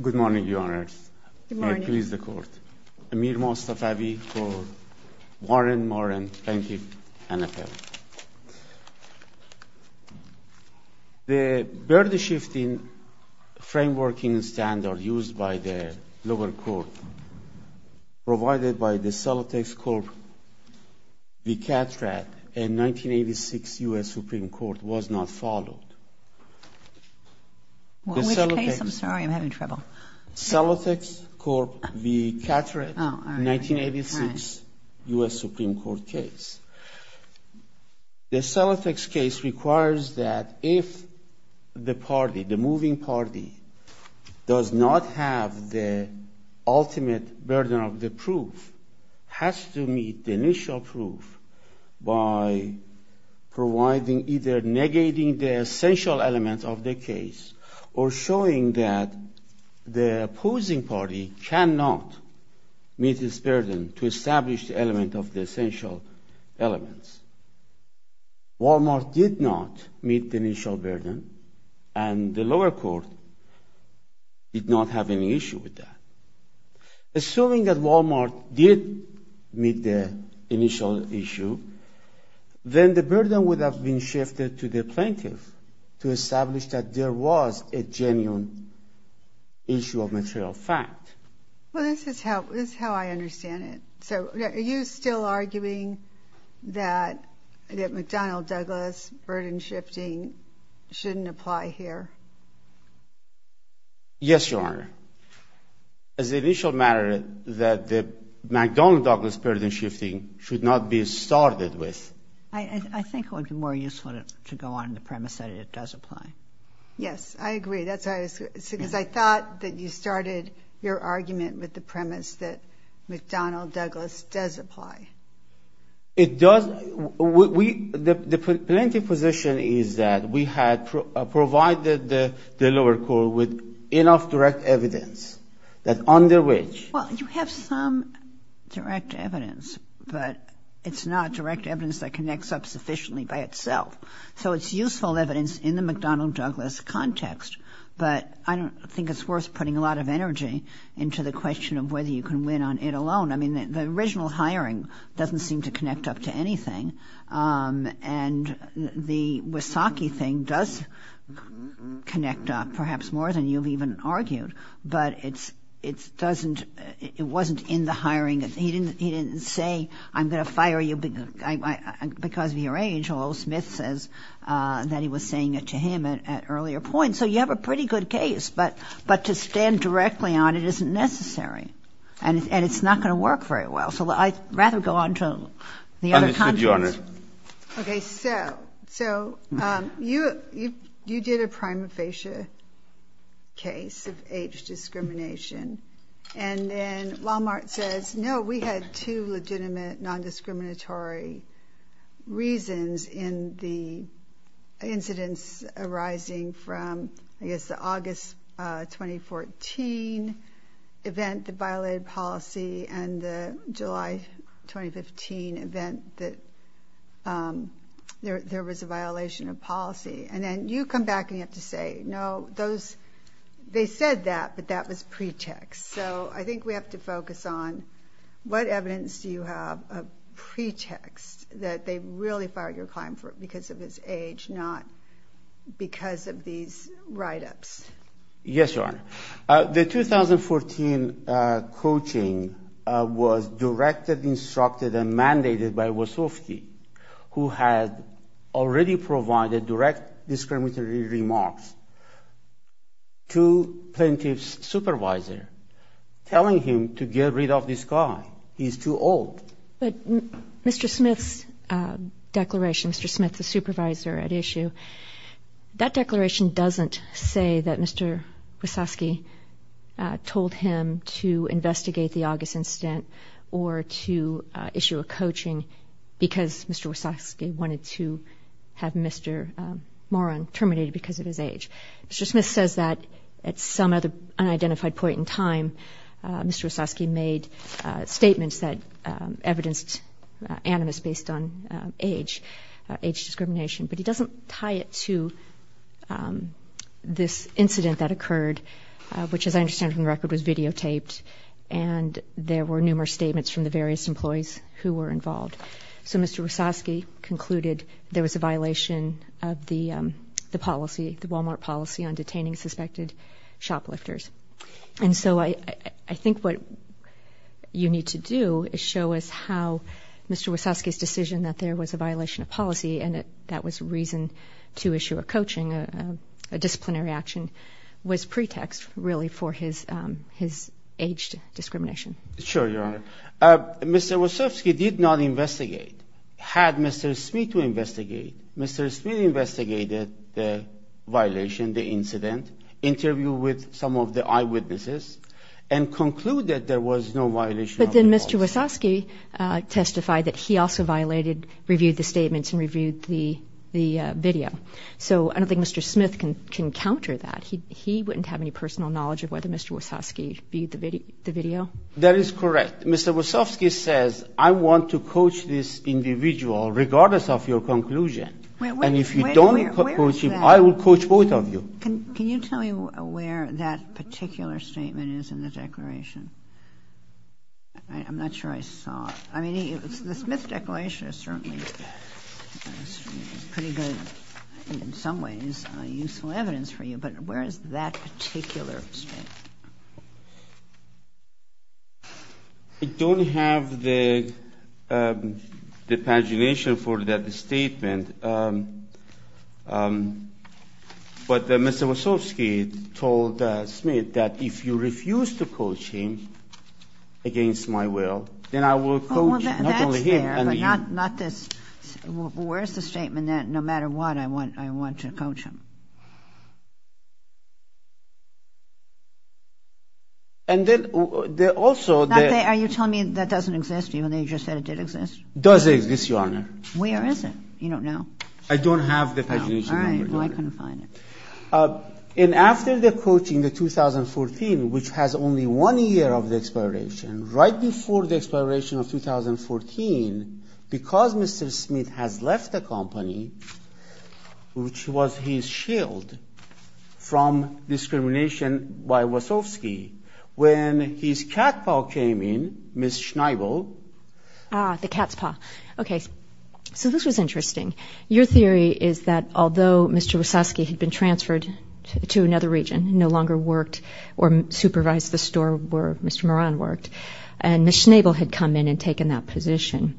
Good morning, Your Honors. Good morning. May it please the Court. Amir Mostafavi for Warren-Mauran Plaintiff, NFL. The burden-shifting frameworking standard used by the lower court provided by the Celotex Corp. v. Catrad in 1986 U.S. Supreme Court was not followed. Which case? I'm sorry, I'm having trouble. Celotex Corp. v. Catrad, 1986 U.S. Supreme Court case. The Celotex case requires that if the party, the moving party, does not have the ultimate burden of the proof, has to meet the initial proof by providing either negating the essential elements of the case or showing that the opposing party cannot meet its burden to establish the element of the essential elements. Wal-Mart did not meet the initial burden, and the lower court did not have any issue with that. Assuming that Wal-Mart did meet the initial issue, then the burden would have been shifted to the plaintiff to establish that there was a genuine issue of material fact. Well, this is how I understand it. So are you still arguing that McDonnell-Douglas burden-shifting shouldn't apply here? Yes, Your Honor. As the initial matter that the McDonnell-Douglas burden-shifting should not be started with. I think it would be more useful to go on the premise that it does apply. Yes, I agree. Because I thought that you started your argument with the premise that McDonnell-Douglas does apply. It does. The plaintiff's position is that we had provided the lower court with enough direct evidence that under which... Well, you have some direct evidence, but it's not direct evidence that connects up sufficiently by itself. So it's useful evidence in the McDonnell-Douglas context, but I don't think it's worth putting a lot of energy into the question of whether you can win on it alone. I mean, the original hiring doesn't seem to connect up to anything, and the Wysocki thing does connect up perhaps more than you've even argued. But it wasn't in the hiring. He didn't say, I'm going to fire you because of your age, although Smith says that he was saying it to him at an earlier point. So you have a pretty good case, but to stand directly on it isn't necessary. And it's not going to work very well. So I'd rather go on to the other context. Understood, Your Honor. Okay, so you did a prima facie case of age discrimination, and then Walmart says, no, we had two legitimate nondiscriminatory reasons in the incidents arising from, I guess, the August 2014 event that violated policy and the July 2015 event that there was a violation of policy. And then you come back and you have to say, no, they said that, but that was pretext. So I think we have to focus on what evidence do you have of pretext that they really fired your client because of his age, not because of these write-ups. Yes, Your Honor. The 2014 coaching was directed, instructed, and mandated by Wysocki, who had already provided direct discriminatory remarks to plaintiff's supervisor, telling him to get rid of this guy. He's too old. But Mr. Smith's declaration, Mr. Smith, the supervisor at issue, that declaration doesn't say that Mr. Wysocki told him to investigate the August incident or to issue a coaching because Mr. Wysocki wanted to have Mr. Moran terminated because of his age. Mr. Smith says that at some other unidentified point in time, Mr. Wysocki made statements that evidenced animus based on age, age discrimination, but he doesn't tie it to this incident that occurred, which, as I understand from the record, was videotaped, and there were numerous statements from the various employees who were involved. So Mr. Wysocki concluded there was a violation of the policy, the Walmart policy, on detaining suspected shoplifters. And so I think what you need to do is show us how Mr. Wysocki's decision that there was a violation of policy and that that was reason to issue a coaching, a disciplinary action, was pretext really for his age discrimination. Sure, Your Honor. Mr. Wysocki did not investigate. Had Mr. Smith to investigate, Mr. Smith investigated the violation, the incident, interviewed with some of the eyewitnesses, and concluded there was no violation of the policy. But then Mr. Wysocki testified that he also violated, reviewed the statements and reviewed the video. So I don't think Mr. Smith can counter that. He wouldn't have any personal knowledge of whether Mr. Wysocki viewed the video. That is correct. Mr. Wysocki says, I want to coach this individual regardless of your conclusion. And if you don't coach him, I will coach both of you. Can you tell me where that particular statement is in the declaration? I'm not sure I saw it. I mean, the Smith declaration is certainly pretty good and in some ways useful evidence for you. But where is that particular statement? I don't have the pagination for that statement. But Mr. Wysocki told Smith that if you refuse to coach him against my will, then I will coach not only him and you. Well, that's there, but not this. Where is the statement that no matter what, I want to coach him? And then also the ‑‑ Are you telling me that doesn't exist even though you just said it did exist? It does exist, Your Honor. Where is it? You don't know? I don't have the pagination number, Your Honor. All right. Well, I couldn't find it. And after the coaching, the 2014, which has only one year of the expiration, right before the expiration of 2014, because Mr. Smith has left the company, which was his shield from discrimination by Wysocki, when his cat paw came in, Ms. Schneibel ‑‑ Ah, the cat's paw. Okay. So this was interesting. Your theory is that although Mr. Wysocki had been transferred to another region, no longer worked or supervised the store where Mr. Moran worked, and Ms. Schneibel had come in and taken that position,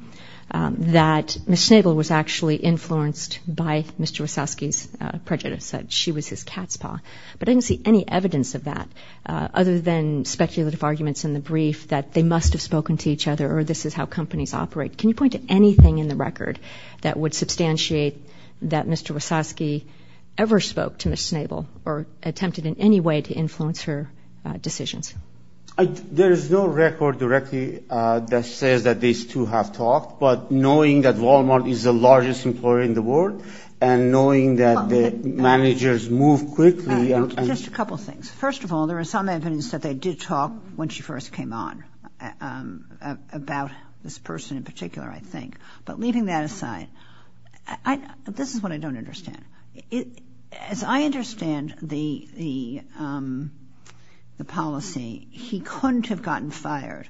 that Ms. Schneibel was actually influenced by Mr. Wysocki's prejudice that she was his cat's paw. But I didn't see any evidence of that other than speculative arguments in the brief that they must have spoken to each other or this is how companies operate. Can you point to anything in the record that would substantiate that Mr. Wysocki ever spoke to Ms. Schneibel or attempted in any way to influence her decisions? There is no record directly that says that these two have talked, but knowing that Walmart is the largest employer in the world and knowing that the managers move quickly. Just a couple things. First of all, there is some evidence that they did talk when she first came on about this person in particular, I think. But leaving that aside, this is what I don't understand. As I understand the policy, he couldn't have gotten fired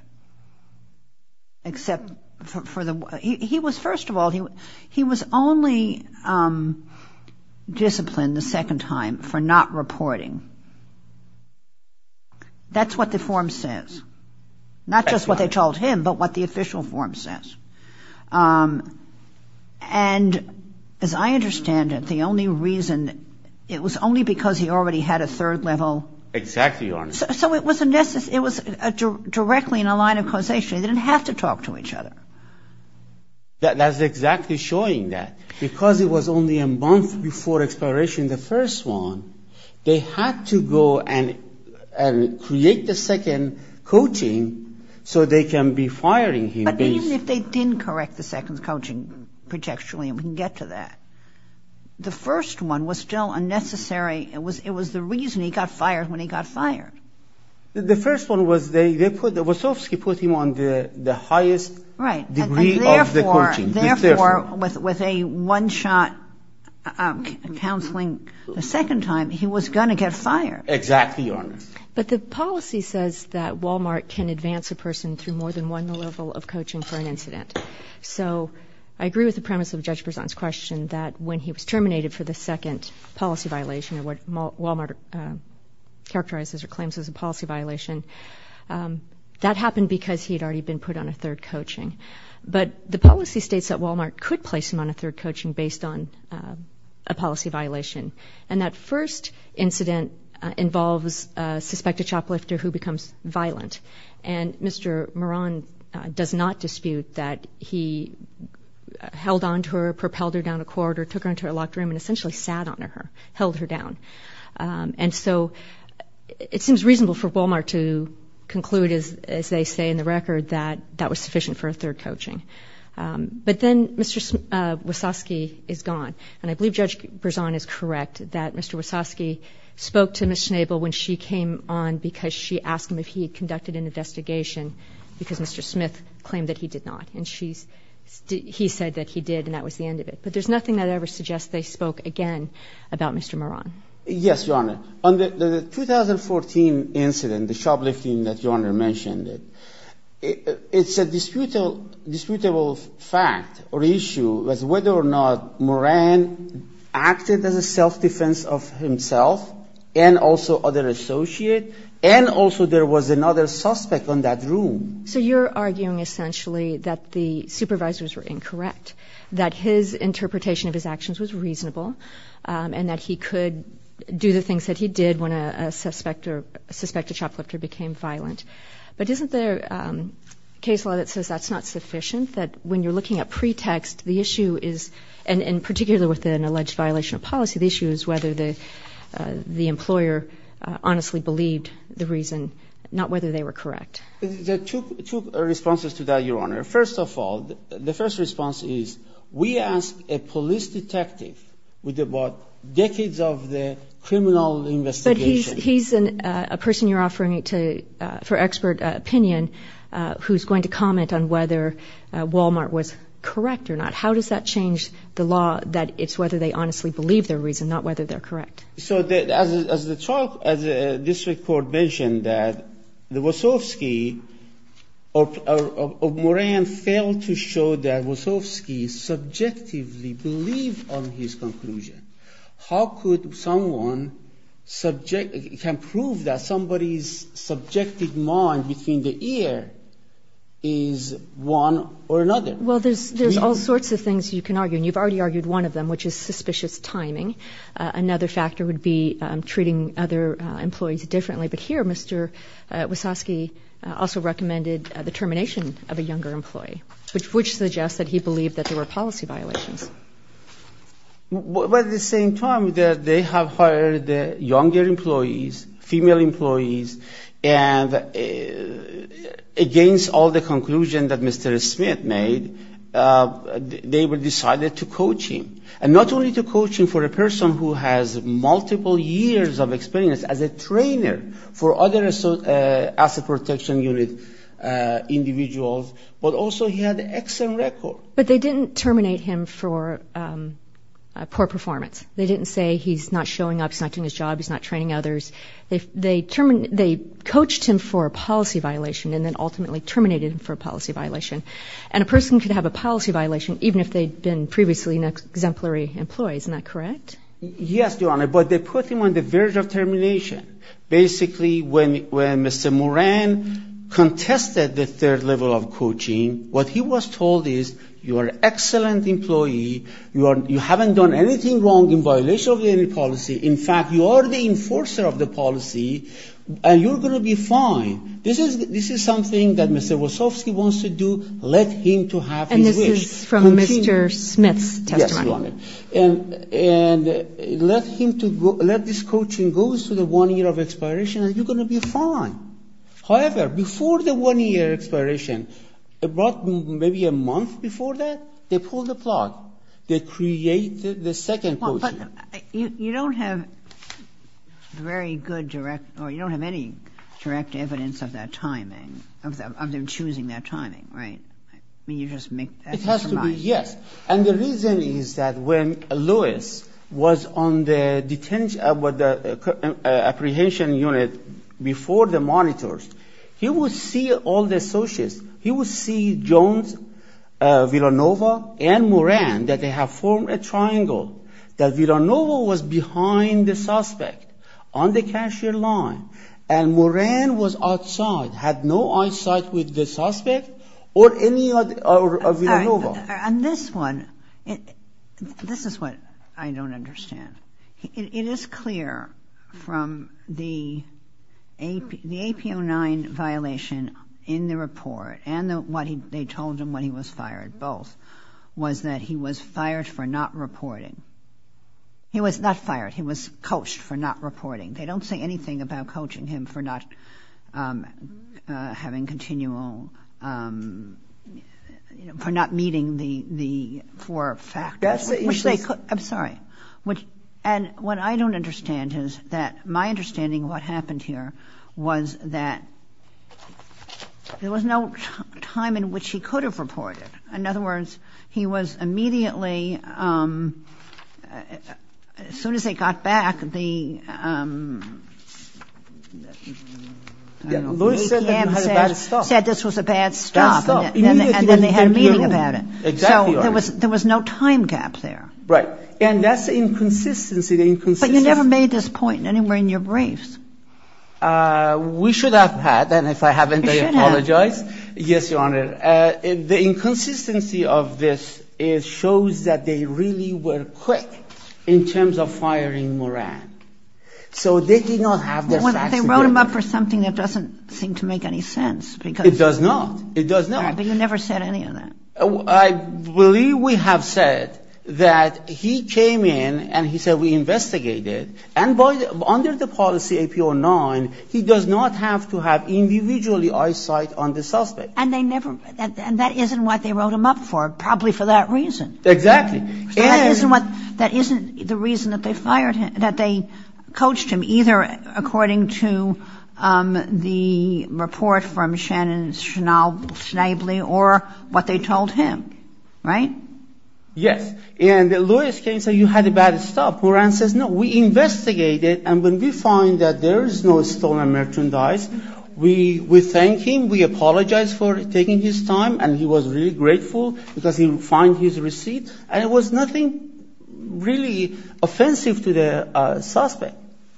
except for the ‑‑ he was only disciplined the second time for not reporting. That's what the form says. Not just what they told him, but what the official form says. And as I understand it, the only reason, it was only because he already had a third level. Exactly, Your Honor. It was directly in a line of causation. They didn't have to talk to each other. That's exactly showing that. Because it was only a month before expiration of the first one, they had to go and create the second coaching so they can be firing him. But even if they didn't correct the second coaching projectually, and we can get to that, the first one was still unnecessary. It was the reason he got fired when he got fired. The first one was they put ‑‑ Wasowski put him on the highest degree of the coaching. Therefore, with a one-shot counseling the second time, he was going to get fired. Exactly, Your Honor. But the policy says that Walmart can advance a person through more than one level of coaching for an incident. So I agree with the premise of Judge Berzon's question that when he was terminated for the second policy violation of what Walmart characterizes or claims as a policy violation, that happened because he had already been put on a third coaching. But the policy states that Walmart could place him on a third coaching based on a policy violation. And that first incident involves a suspected shoplifter who becomes violent. And Mr. Moran does not dispute that he held on to her, propelled her down a corridor, took her into a locked room and essentially sat on her, held her down. And so it seems reasonable for Walmart to conclude, as they say in the record, that that was sufficient for a third coaching. But then Mr. Wasowski is gone. And I believe Judge Berzon is correct that Mr. Wasowski spoke to Ms. Schnabel when she came on because she asked him if he had conducted an investigation because Mr. Smith claimed that he did not. And she's – he said that he did and that was the end of it. But there's nothing that ever suggests they spoke again about Mr. Moran. Yes, Your Honor. On the 2014 incident, the shoplifting that Your Honor mentioned, it's a disputable fact or issue as whether or not Moran acted as a self-defense of himself and also other associates and also there was another suspect in that room. So you're arguing essentially that the supervisors were incorrect, that his interpretation of his actions was reasonable and that he could do the things that he did when a suspect or – a suspected shoplifter became violent. But isn't there case law that says that's not sufficient, that when you're looking at pretext, the issue is – and particularly with an alleged violation of policy, the issue is whether the employer honestly believed the reason, not whether they were correct. There are two responses to that, Your Honor. First of all, the first response is we asked a police detective with about decades of the criminal investigation. But he's a person you're offering for expert opinion who's going to comment on whether Walmart was correct or not. How does that change the law that it's whether they honestly believe their reason, not whether they're correct? So as the trial – as the district court mentioned that the Wasowski – or Moran failed to show that Wasowski subjectively believed on his conclusion. How could someone subject – can prove that somebody's subjective mind between the ear is one or another? Well, there's all sorts of things you can argue. And you've already argued one of them, which is suspicious timing. Another factor would be treating other employees differently. But here Mr. Wasowski also recommended the termination of a younger employee, which suggests that he believed that there were policy violations. But at the same time, they have hired younger employees, female employees, and against all the conclusions that Mr. Smith made, they decided to coach him. And not only to coach him for a person who has multiple years of experience as a trainer for other asset protection unit individuals, but also he had excellent record. But they didn't terminate him for poor performance. They didn't say he's not showing up, he's not doing his job, he's not training others. They coached him for a policy violation and then ultimately terminated him for a policy violation. And a person could have a policy violation even if they'd been previously exemplary employees. Isn't that correct? Yes, Your Honor. But they put him on the verge of termination. Basically when Mr. Moran contested the third level of coaching, what he was told is you are an excellent employee, you haven't done anything wrong in violation of any policy. In fact, you are the enforcer of the policy and you're going to be fine. This is something that Mr. Wasowski wants to do. Let him to have his wish. And this is from Mr. Smith's testimony. Yes, Your Honor. And let this coaching go to the one year of expiration and you're going to be fine. However, before the one year expiration, about maybe a month before that, they pulled the plug. They created the second coaching. But you don't have very good direct or you don't have any direct evidence of that timing, of them choosing that timing, right? I mean you just make that surmise. It has to be, yes. And the reason is that when Lewis was on the apprehension unit before the monitors, he would see all the associates. He would see Jones, Villanova, and Moran that they have formed a triangle, that Villanova was behind the suspect on the cashier line and Moran was outside, had no eyesight with the suspect or any of Villanova. And this one, this is what I don't understand. It is clear from the APO 9 violation in the report and what they told him when he was fired, both, was that he was fired for not reporting. He was not fired. He was coached for not reporting. They don't say anything about coaching him for not having continual, for not meeting the four factors. I'm sorry. And what I don't understand is that my understanding of what happened here was that there was no time in which he could have reported. In other words, he was immediately, as soon as they got back, the APM said this was a bad stop and then they had a meeting about it. So there was no time gap there. Right. And that's the inconsistency. But you never made this point anywhere in your briefs. We should have had, and if I haven't, I apologize. You should have. Yes, Your Honor. The inconsistency of this shows that they really were quick in terms of firing Moran. So they did not have the facts. They wrote him up for something that doesn't seem to make any sense. It does not. It does not. But you never said any of that. I believe we have said that he came in and he said we investigated. And under the policy APO 9, he does not have to have individually eyesight on the suspect. And they never, and that isn't what they wrote him up for, probably for that reason. Exactly. That isn't what, that isn't the reason that they fired him, that they coached him, either according to the report from Shannon Schnabel or what they told him. Right? Yes. And Lewis came and said you had a bad stop. Moran says, no, we investigated. And when we find that there is no stolen merchandise, we thank him. We apologize for taking his time. And he was really grateful because he would find his receipt. And it was nothing really offensive to the suspect.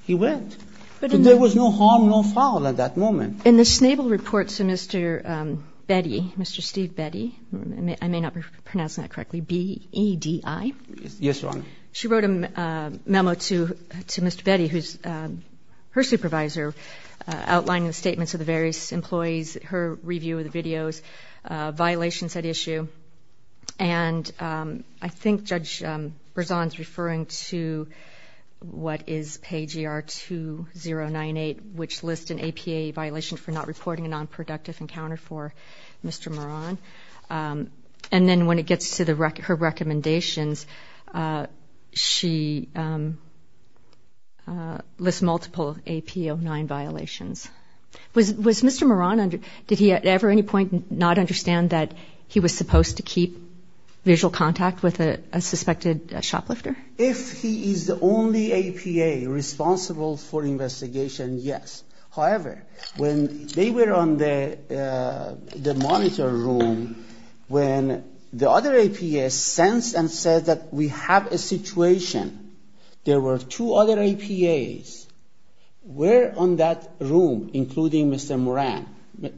He went. But there was no harm, no foul at that moment. In the Schnabel report to Mr. Betty, Mr. Steve Betty, I may not be pronouncing that correctly, B-E-D-I. Yes, Your Honor. She wrote a memo to Mr. Betty, who is her supervisor, outlining the statements of the various employees, her review of the videos, violations at issue. And I think Judge Berzon is referring to what is page ER 2098, which lists an APA violation for not reporting a nonproductive encounter for Mr. Moran. And then when it gets to her recommendations, she lists multiple AP-09 violations. Was Mr. Moran, did he at any point not understand that he was supposed to keep visual contact with a suspected shoplifter? If he is the only APA responsible for investigation, yes. However, when they were on the monitor room, when the other APA sensed and said that we have a situation, there were two other APAs were on that room, including Mr. Moran,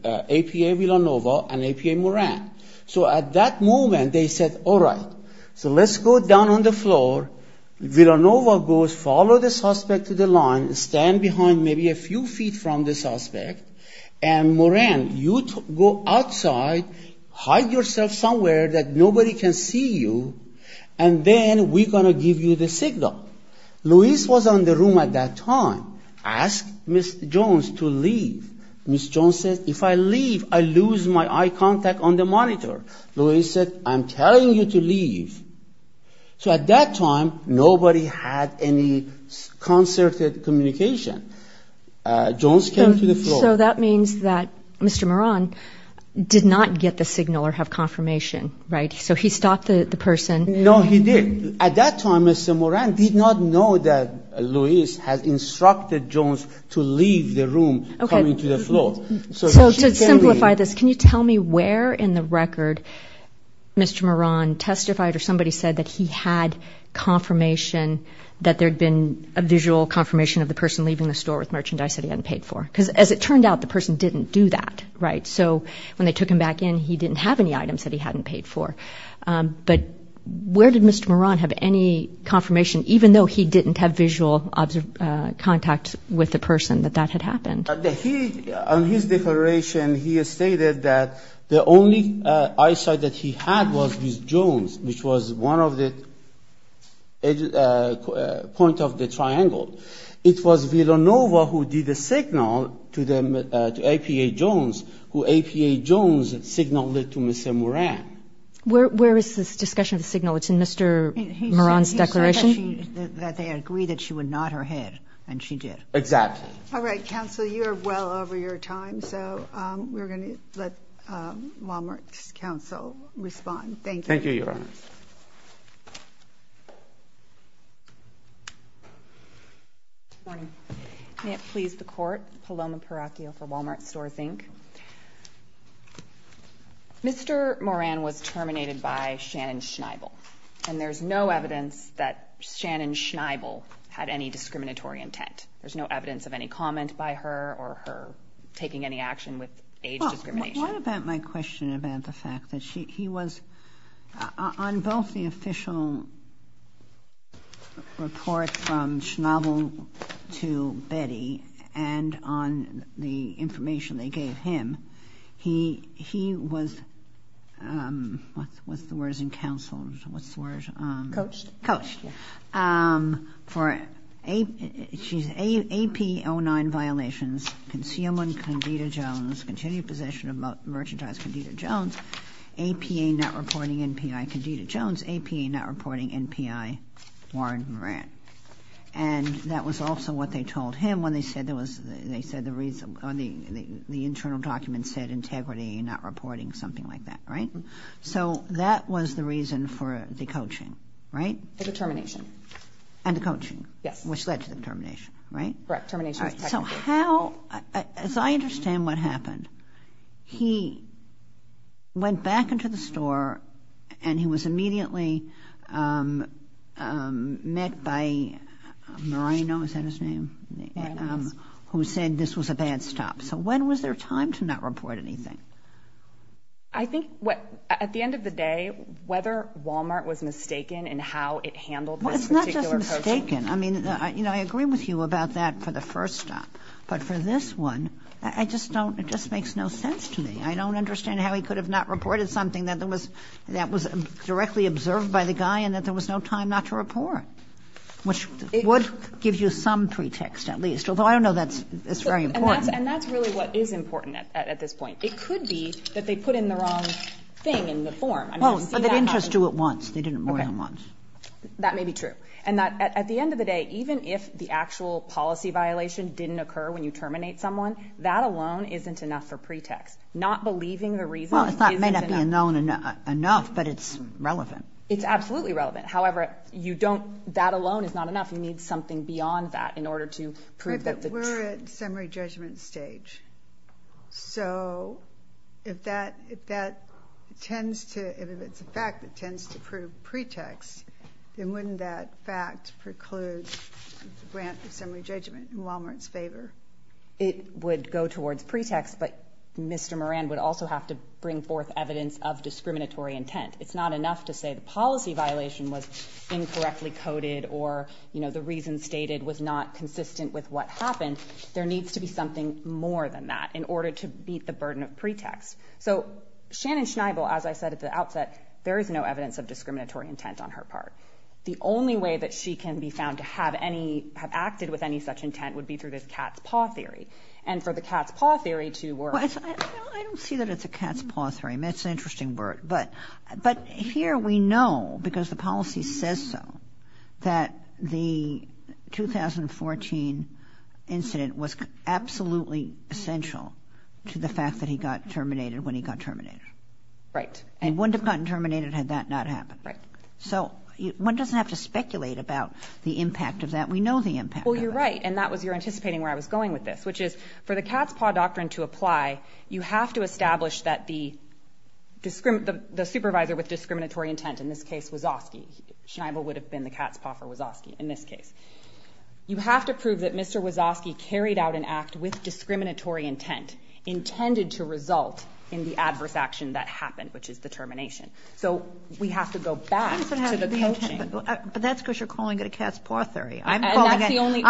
APA Villanova and APA Moran. So at that moment, they said, all right, so let's go down on the floor. Villanova goes, follow the suspect to the line, stand behind maybe a few feet from the suspect, and Moran, you go outside, hide yourself somewhere that nobody can see you, and then we're going to give you the signal. Luis was on the room at that time, asked Ms. Jones to leave. Ms. Jones said, if I leave, I lose my eye contact on the monitor. So at that time, nobody had any concerted communication. Jones came to the floor. So that means that Mr. Moran did not get the signal or have confirmation, right? So he stopped the person. No, he didn't. At that time, Mr. Moran did not know that Luis had instructed Jones to leave the room coming to the floor. So to simplify this, can you tell me where in the record Mr. Moran testified or somebody said that he had confirmation that there had been a visual confirmation of the person leaving the store with merchandise that he hadn't paid for? Because as it turned out, the person didn't do that, right? So when they took him back in, he didn't have any items that he hadn't paid for. But where did Mr. Moran have any confirmation, even though he didn't have visual contact with the person, that that had happened? On his declaration, he stated that the only eyesight that he had was with Jones, which was one of the points of the triangle. It was Villanova who did the signal to APA Jones, who APA Jones signaled it to Mr. Moran. Where is this discussion of the signal? It's in Mr. Moran's declaration? He said that they agreed that she would nod her head, and she did. Exactly. All right, counsel, you are well over your time, so we're going to let Walmart's counsel respond. Thank you. Thank you, Your Honor. Good morning. May it please the Court. Paloma Peracchio for Walmart Stores, Inc. Mr. Moran was terminated by Shannon Schneibel, and there's no evidence that Shannon Schneibel had any discriminatory intent. There's no evidence of any comment by her or her taking any action with age discrimination. Well, what about my question about the fact that he was – on both the official report from Schneibel to Betty and on the information they gave him, he was – what's the word in counsel? What's the word? Coached. Coached. For AP09 violations, concealment, Condita Jones, continued possession of merchandise, Condita Jones, APA not reporting NPI, Condita Jones, APA not reporting NPI, Warren Moran. And that was also what they told him when they said there was – they said the reason – the internal document said integrity, not reporting, something like that, right? So that was the reason for the coaching, right? The determination. And the coaching. Yes. Which led to the determination, right? Correct. Termination was technical. As I understand what happened, he went back into the store and he was immediately met by Marino, is that his name? Marinos. Who said this was a bad stop. So when was there time to not report anything? I think at the end of the day, whether Walmart was mistaken in how it handled this particular coaching – But for this one, I just don't – it just makes no sense to me. I don't understand how he could have not reported something that was directly observed by the guy and that there was no time not to report. Which would give you some pretext, at least. Although I don't know that's very important. And that's really what is important at this point. It could be that they put in the wrong thing in the form. Well, but they didn't just do it once. They did it more than once. Okay. That may be true. And that at the end of the day, even if the actual policy violation didn't occur when you terminate someone, that alone isn't enough for pretext. Not believing the reason isn't enough. Well, it may not be known enough, but it's relevant. It's absolutely relevant. However, you don't – that alone is not enough. You need something beyond that in order to prove that the – We're at summary judgment stage. So if that tends to – if it's a fact that tends to prove pretext, then wouldn't that fact preclude a grant of summary judgment in Wal-Mart's favor? It would go towards pretext, but Mr. Moran would also have to bring forth evidence of discriminatory intent. It's not enough to say the policy violation was incorrectly coded or, you know, the reason stated was not consistent with what happened. There needs to be something more than that in order to beat the burden of pretext. So Shannon Schneibel, as I said at the outset, there is no evidence of discriminatory intent on her part. The only way that she can be found to have any – have acted with any such intent would be through this cat's paw theory. And for the cat's paw theory to work – I don't see that it's a cat's paw theory. It's an interesting word. But here we know, because the policy says so, that the 2014 incident was absolutely essential to the fact that he got terminated when he got terminated. Right. He wouldn't have gotten terminated had that not happened. Right. So one doesn't have to speculate about the impact of that. We know the impact of that. Well, you're right, and that was – you're anticipating where I was going with this, which is for the cat's paw doctrine to apply, you have to establish that the supervisor with discriminatory intent, in this case Wazowski – Schneibel would have been the cat's paw for Wazowski in this case – you have to prove that Mr. Wazowski carried out an act with discriminatory intent intended to result in the adverse action that happened, which is the termination. So we have to go back to the coaching. But that's because you're calling it a cat's paw theory. I'm calling it – And that's the only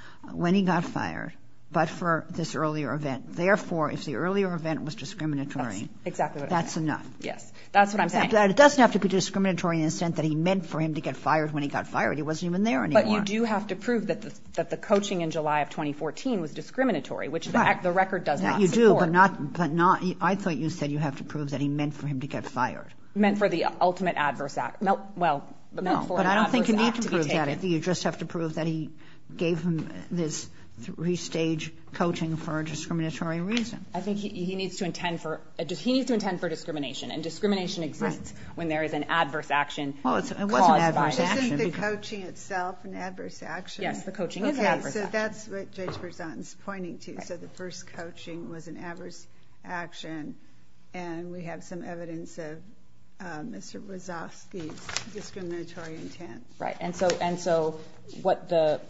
– when he got fired, but for this earlier event. Therefore, if the earlier event was discriminatory – That's exactly what I'm saying. That's enough. Yes. That's what I'm saying. But it doesn't have to be discriminatory in the sense that he meant for him to get fired when he got fired. He wasn't even there anymore. But you do have to prove that the coaching in July of 2014 was discriminatory, which the record does not support. You do, but not – I thought you said you have to prove that he meant for him to get fired. Meant for the ultimate adverse – well, meant for an adverse act to be taken. But I don't think you need to prove that. You just have to prove that he gave him this three-stage coaching for a discriminatory reason. I think he needs to intend for – he needs to intend for discrimination, and discrimination exists when there is an adverse action caused by it. Well, it wasn't an adverse action. Isn't the coaching itself an adverse action? Yes, the coaching is an adverse action. Okay, so that's what Judge Berzant is pointing to. So the first coaching was an adverse action, and we have some evidence of Mr. Wazowski's discriminatory intent. Right, and so what the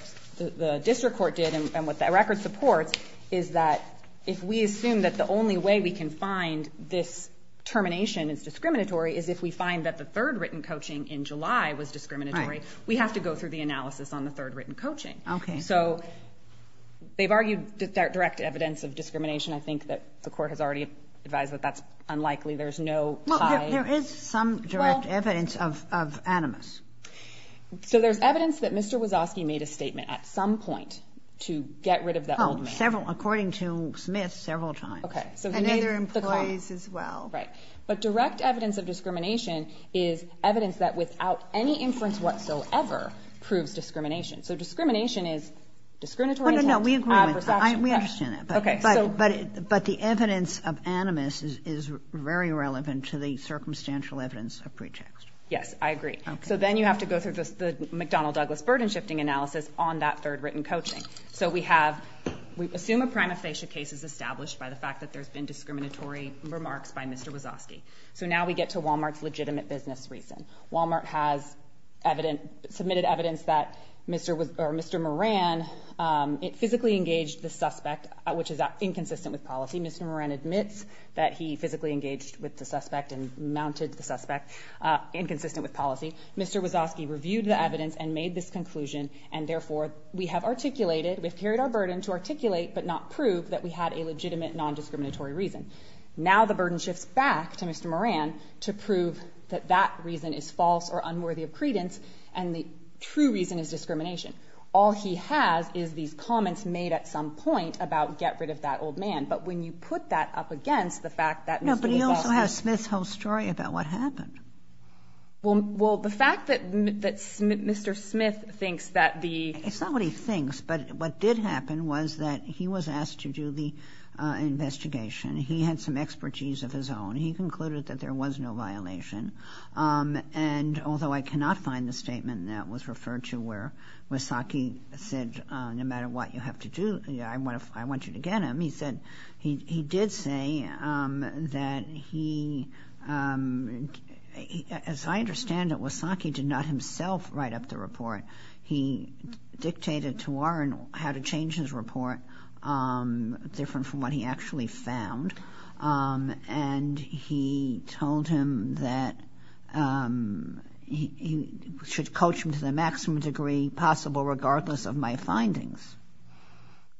district court did and what that record supports is that if we assume that the only way we can find this termination is discriminatory is if we find that the third written coaching in July was discriminatory, we have to go through the analysis on the third written coaching. Okay. So they've argued direct evidence of discrimination. I think that the court has already advised that that's unlikely. There's no tie. Well, there is some direct evidence of animus. So there's evidence that Mr. Wazowski made a statement at some point to get rid of the old man. Oh, according to Smith several times. And other employees as well. Right, but direct evidence of discrimination is evidence that without any inference whatsoever proves discrimination. So discrimination is discriminatory intent, adverse action. No, we agree with that. We understand that. But the evidence of animus is very relevant to the circumstantial evidence of pretext. Yes, I agree. So then you have to go through the McDonnell-Douglas burden-shifting analysis on that third written coaching. So we assume a prima facie case is established by the fact that there's been discriminatory remarks by Mr. Wazowski. So now we get to Walmart's legitimate business reason. Walmart has submitted evidence that Mr. Moran physically engaged the suspect, which is inconsistent with policy. Mr. Moran admits that he physically engaged with the suspect and mounted the suspect, inconsistent with policy. Mr. Wazowski reviewed the evidence and made this conclusion. And therefore, we have articulated, we've carried our burden to articulate but not prove that we had a legitimate nondiscriminatory reason. Now the burden shifts back to Mr. Moran to prove that that reason is false or unworthy of credence, and the true reason is discrimination. All he has is these comments made at some point about get rid of that old man. But when you put that up against the fact that Mr. Wazowski— No, but you also have Smith's whole story about what happened. Well, the fact that Mr. Smith thinks that the— It's not what he thinks, but what did happen was that he was asked to do the investigation. He had some expertise of his own. He concluded that there was no violation. And although I cannot find the statement that was referred to where Wazowski said no matter what you have to do, I want you to get him, he said he did say that he—as I understand it, Wazowski did not himself write up the report. He dictated to Warren how to change his report different from what he actually found. And he told him that he should coach him to the maximum degree possible regardless of my findings.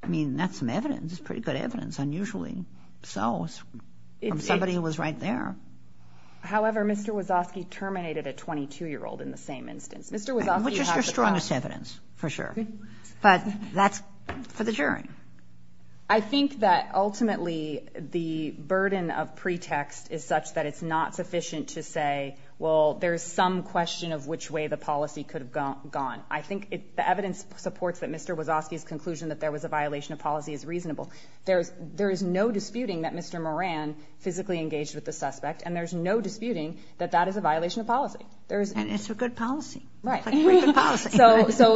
I mean, that's some evidence. It's pretty good evidence, unusually so from somebody who was right there. However, Mr. Wazowski terminated a 22-year-old in the same instance. Which is your strongest evidence, for sure. But that's for the jury. I think that ultimately the burden of pretext is such that it's not sufficient to say, well, there is some question of which way the policy could have gone. I think the evidence supports that Mr. Wazowski's conclusion that there was a violation of policy is reasonable. There is no disputing that Mr. Moran physically engaged with the suspect, and there is no disputing that that is a violation of policy. And it's a good policy. Right. So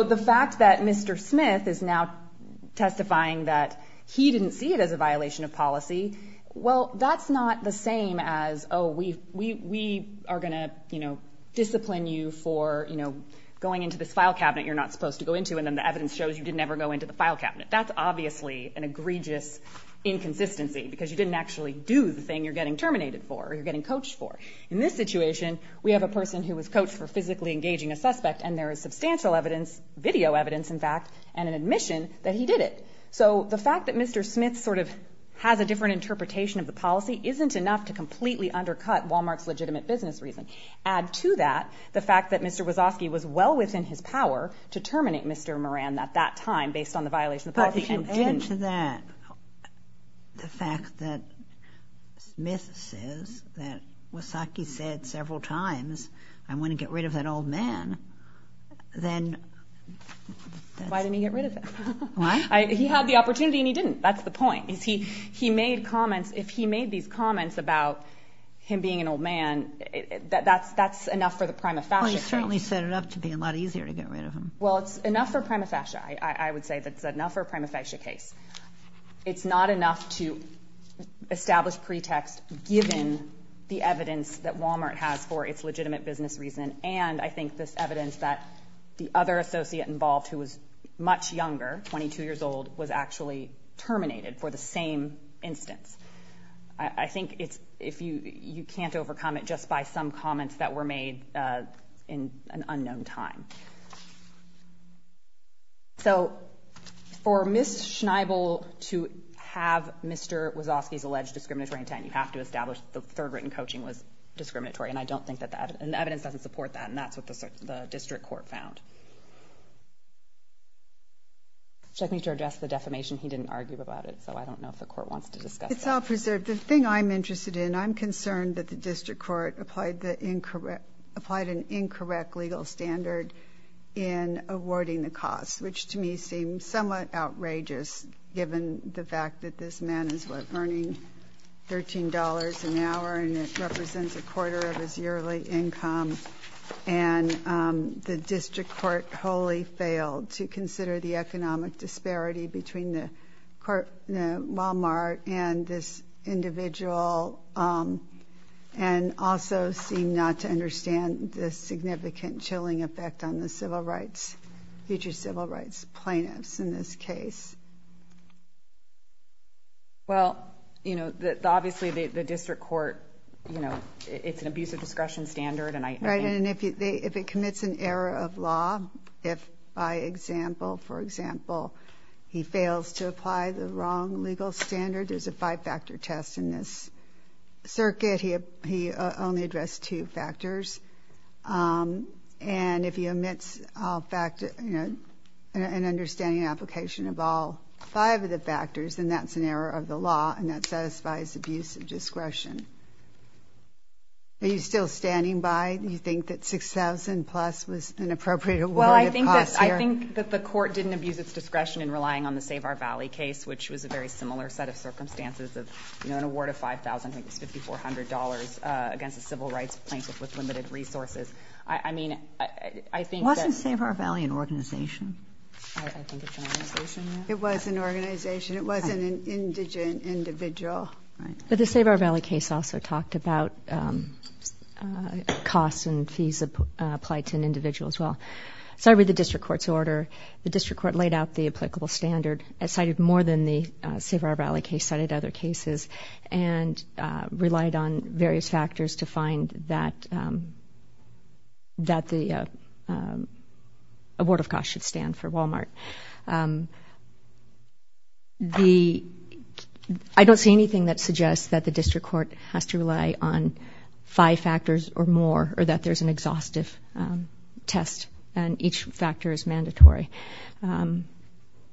the fact that Mr. Smith is now testifying that he didn't see it as a violation of policy, well, that's not the same as, oh, we are going to, you know, discipline you for, you know, going into this file cabinet you're not supposed to go into, and then the evidence shows you didn't ever go into the file cabinet. That's obviously an egregious inconsistency because you didn't actually do the thing you're getting terminated for or you're getting coached for. In this situation, we have a person who was coached for physically engaging a suspect, and there is substantial evidence, video evidence, in fact, and an admission that he did it. So the fact that Mr. Smith sort of has a different interpretation of the policy isn't enough to completely undercut Walmart's legitimate business reason. Add to that the fact that Mr. Wazowski was well within his power to terminate Mr. Moran at that time based on the violation of policy and didn't. Add to that the fact that Smith says that Wazowski said several times, I want to get rid of that old man, then. Why didn't he get rid of him? Why? He had the opportunity and he didn't. That's the point. He made comments. If he made these comments about him being an old man, that's enough for the prima facie case. Well, he certainly set it up to be a lot easier to get rid of him. Well, it's enough for prima facie. I would say that's enough for a prima facie case. It's not enough to establish pretext given the evidence that Walmart has for its legitimate business reason and I think this evidence that the other associate involved who was much younger, 22 years old, was actually terminated for the same instance. I think you can't overcome it just by some comments that were made in an unknown time. So for Ms. Schneibel to have Mr. Wazowski's alleged discriminatory intent, you have to establish the third written coaching was discriminatory and the evidence doesn't support that and that's what the district court found. Check me to address the defamation. He didn't argue about it, so I don't know if the court wants to discuss that. It's all preserved. The thing I'm interested in, I'm concerned that the district court applied an incorrect legal standard in awarding the cost, which to me seems somewhat outrageous given the fact that this man is earning $13 an hour and it represents a quarter of his yearly income and the district court wholly failed to consider the economic disparity between the Walmart and this individual and also seem not to understand the significant chilling effect on the civil rights, future civil rights plaintiffs in this case. Well, you know, obviously the district court, you know, it's an abuse of discretion standard. Right, and if it commits an error of law, if by example, for example, he fails to apply the wrong legal standard, there's a five-factor test in this circuit. He only addressed two factors. And if he omits an understanding application of all five of the factors, then that's an error of the law and that satisfies abuse of discretion. Are you still standing by? Do you think that $6,000 plus was an appropriate award of cost here? Well, I think that the court didn't abuse its discretion in relying on the Save Our Valley case, which was a very similar set of circumstances of, you know, an award of $5,000 against a civil rights plaintiff with limited resources. I mean, I think that— Wasn't Save Our Valley an organization? I think it's an organization, yes. It was an organization. It was an indigent individual. But the Save Our Valley case also talked about cost and fees applied to an individual as well. So I read the district court's order. The district court laid out the applicable standard. It cited more than the Save Our Valley case, cited other cases, and relied on various factors to find that the award of cost should stand for Walmart. I don't see anything that suggests that the district court has to rely on five factors or more or that there's an exhaustive test and each factor is mandatory.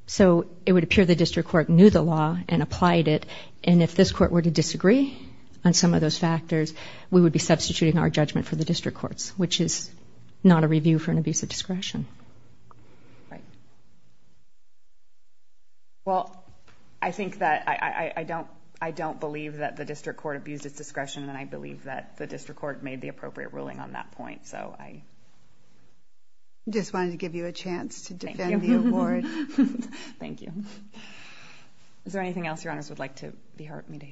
So it would appear the district court knew the law and applied it, and if this court were to disagree on some of those factors, we would be substituting our judgment for the district court's, which is not a review for an abuse of discretion. Right. Well, I think that—I don't believe that the district court abused its discretion, and I believe that the district court made the appropriate ruling on that point, so I— I just wanted to give you a chance to defend the award. Thank you. Is there anything else Your Honors would like to be heard me to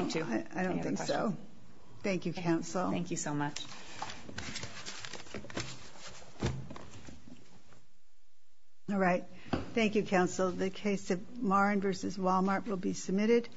speak to? I don't think so. Thank you, Counsel. Thank you so much. All right. Thank you, Counsel. The case of Morin v. Walmart will be submitted.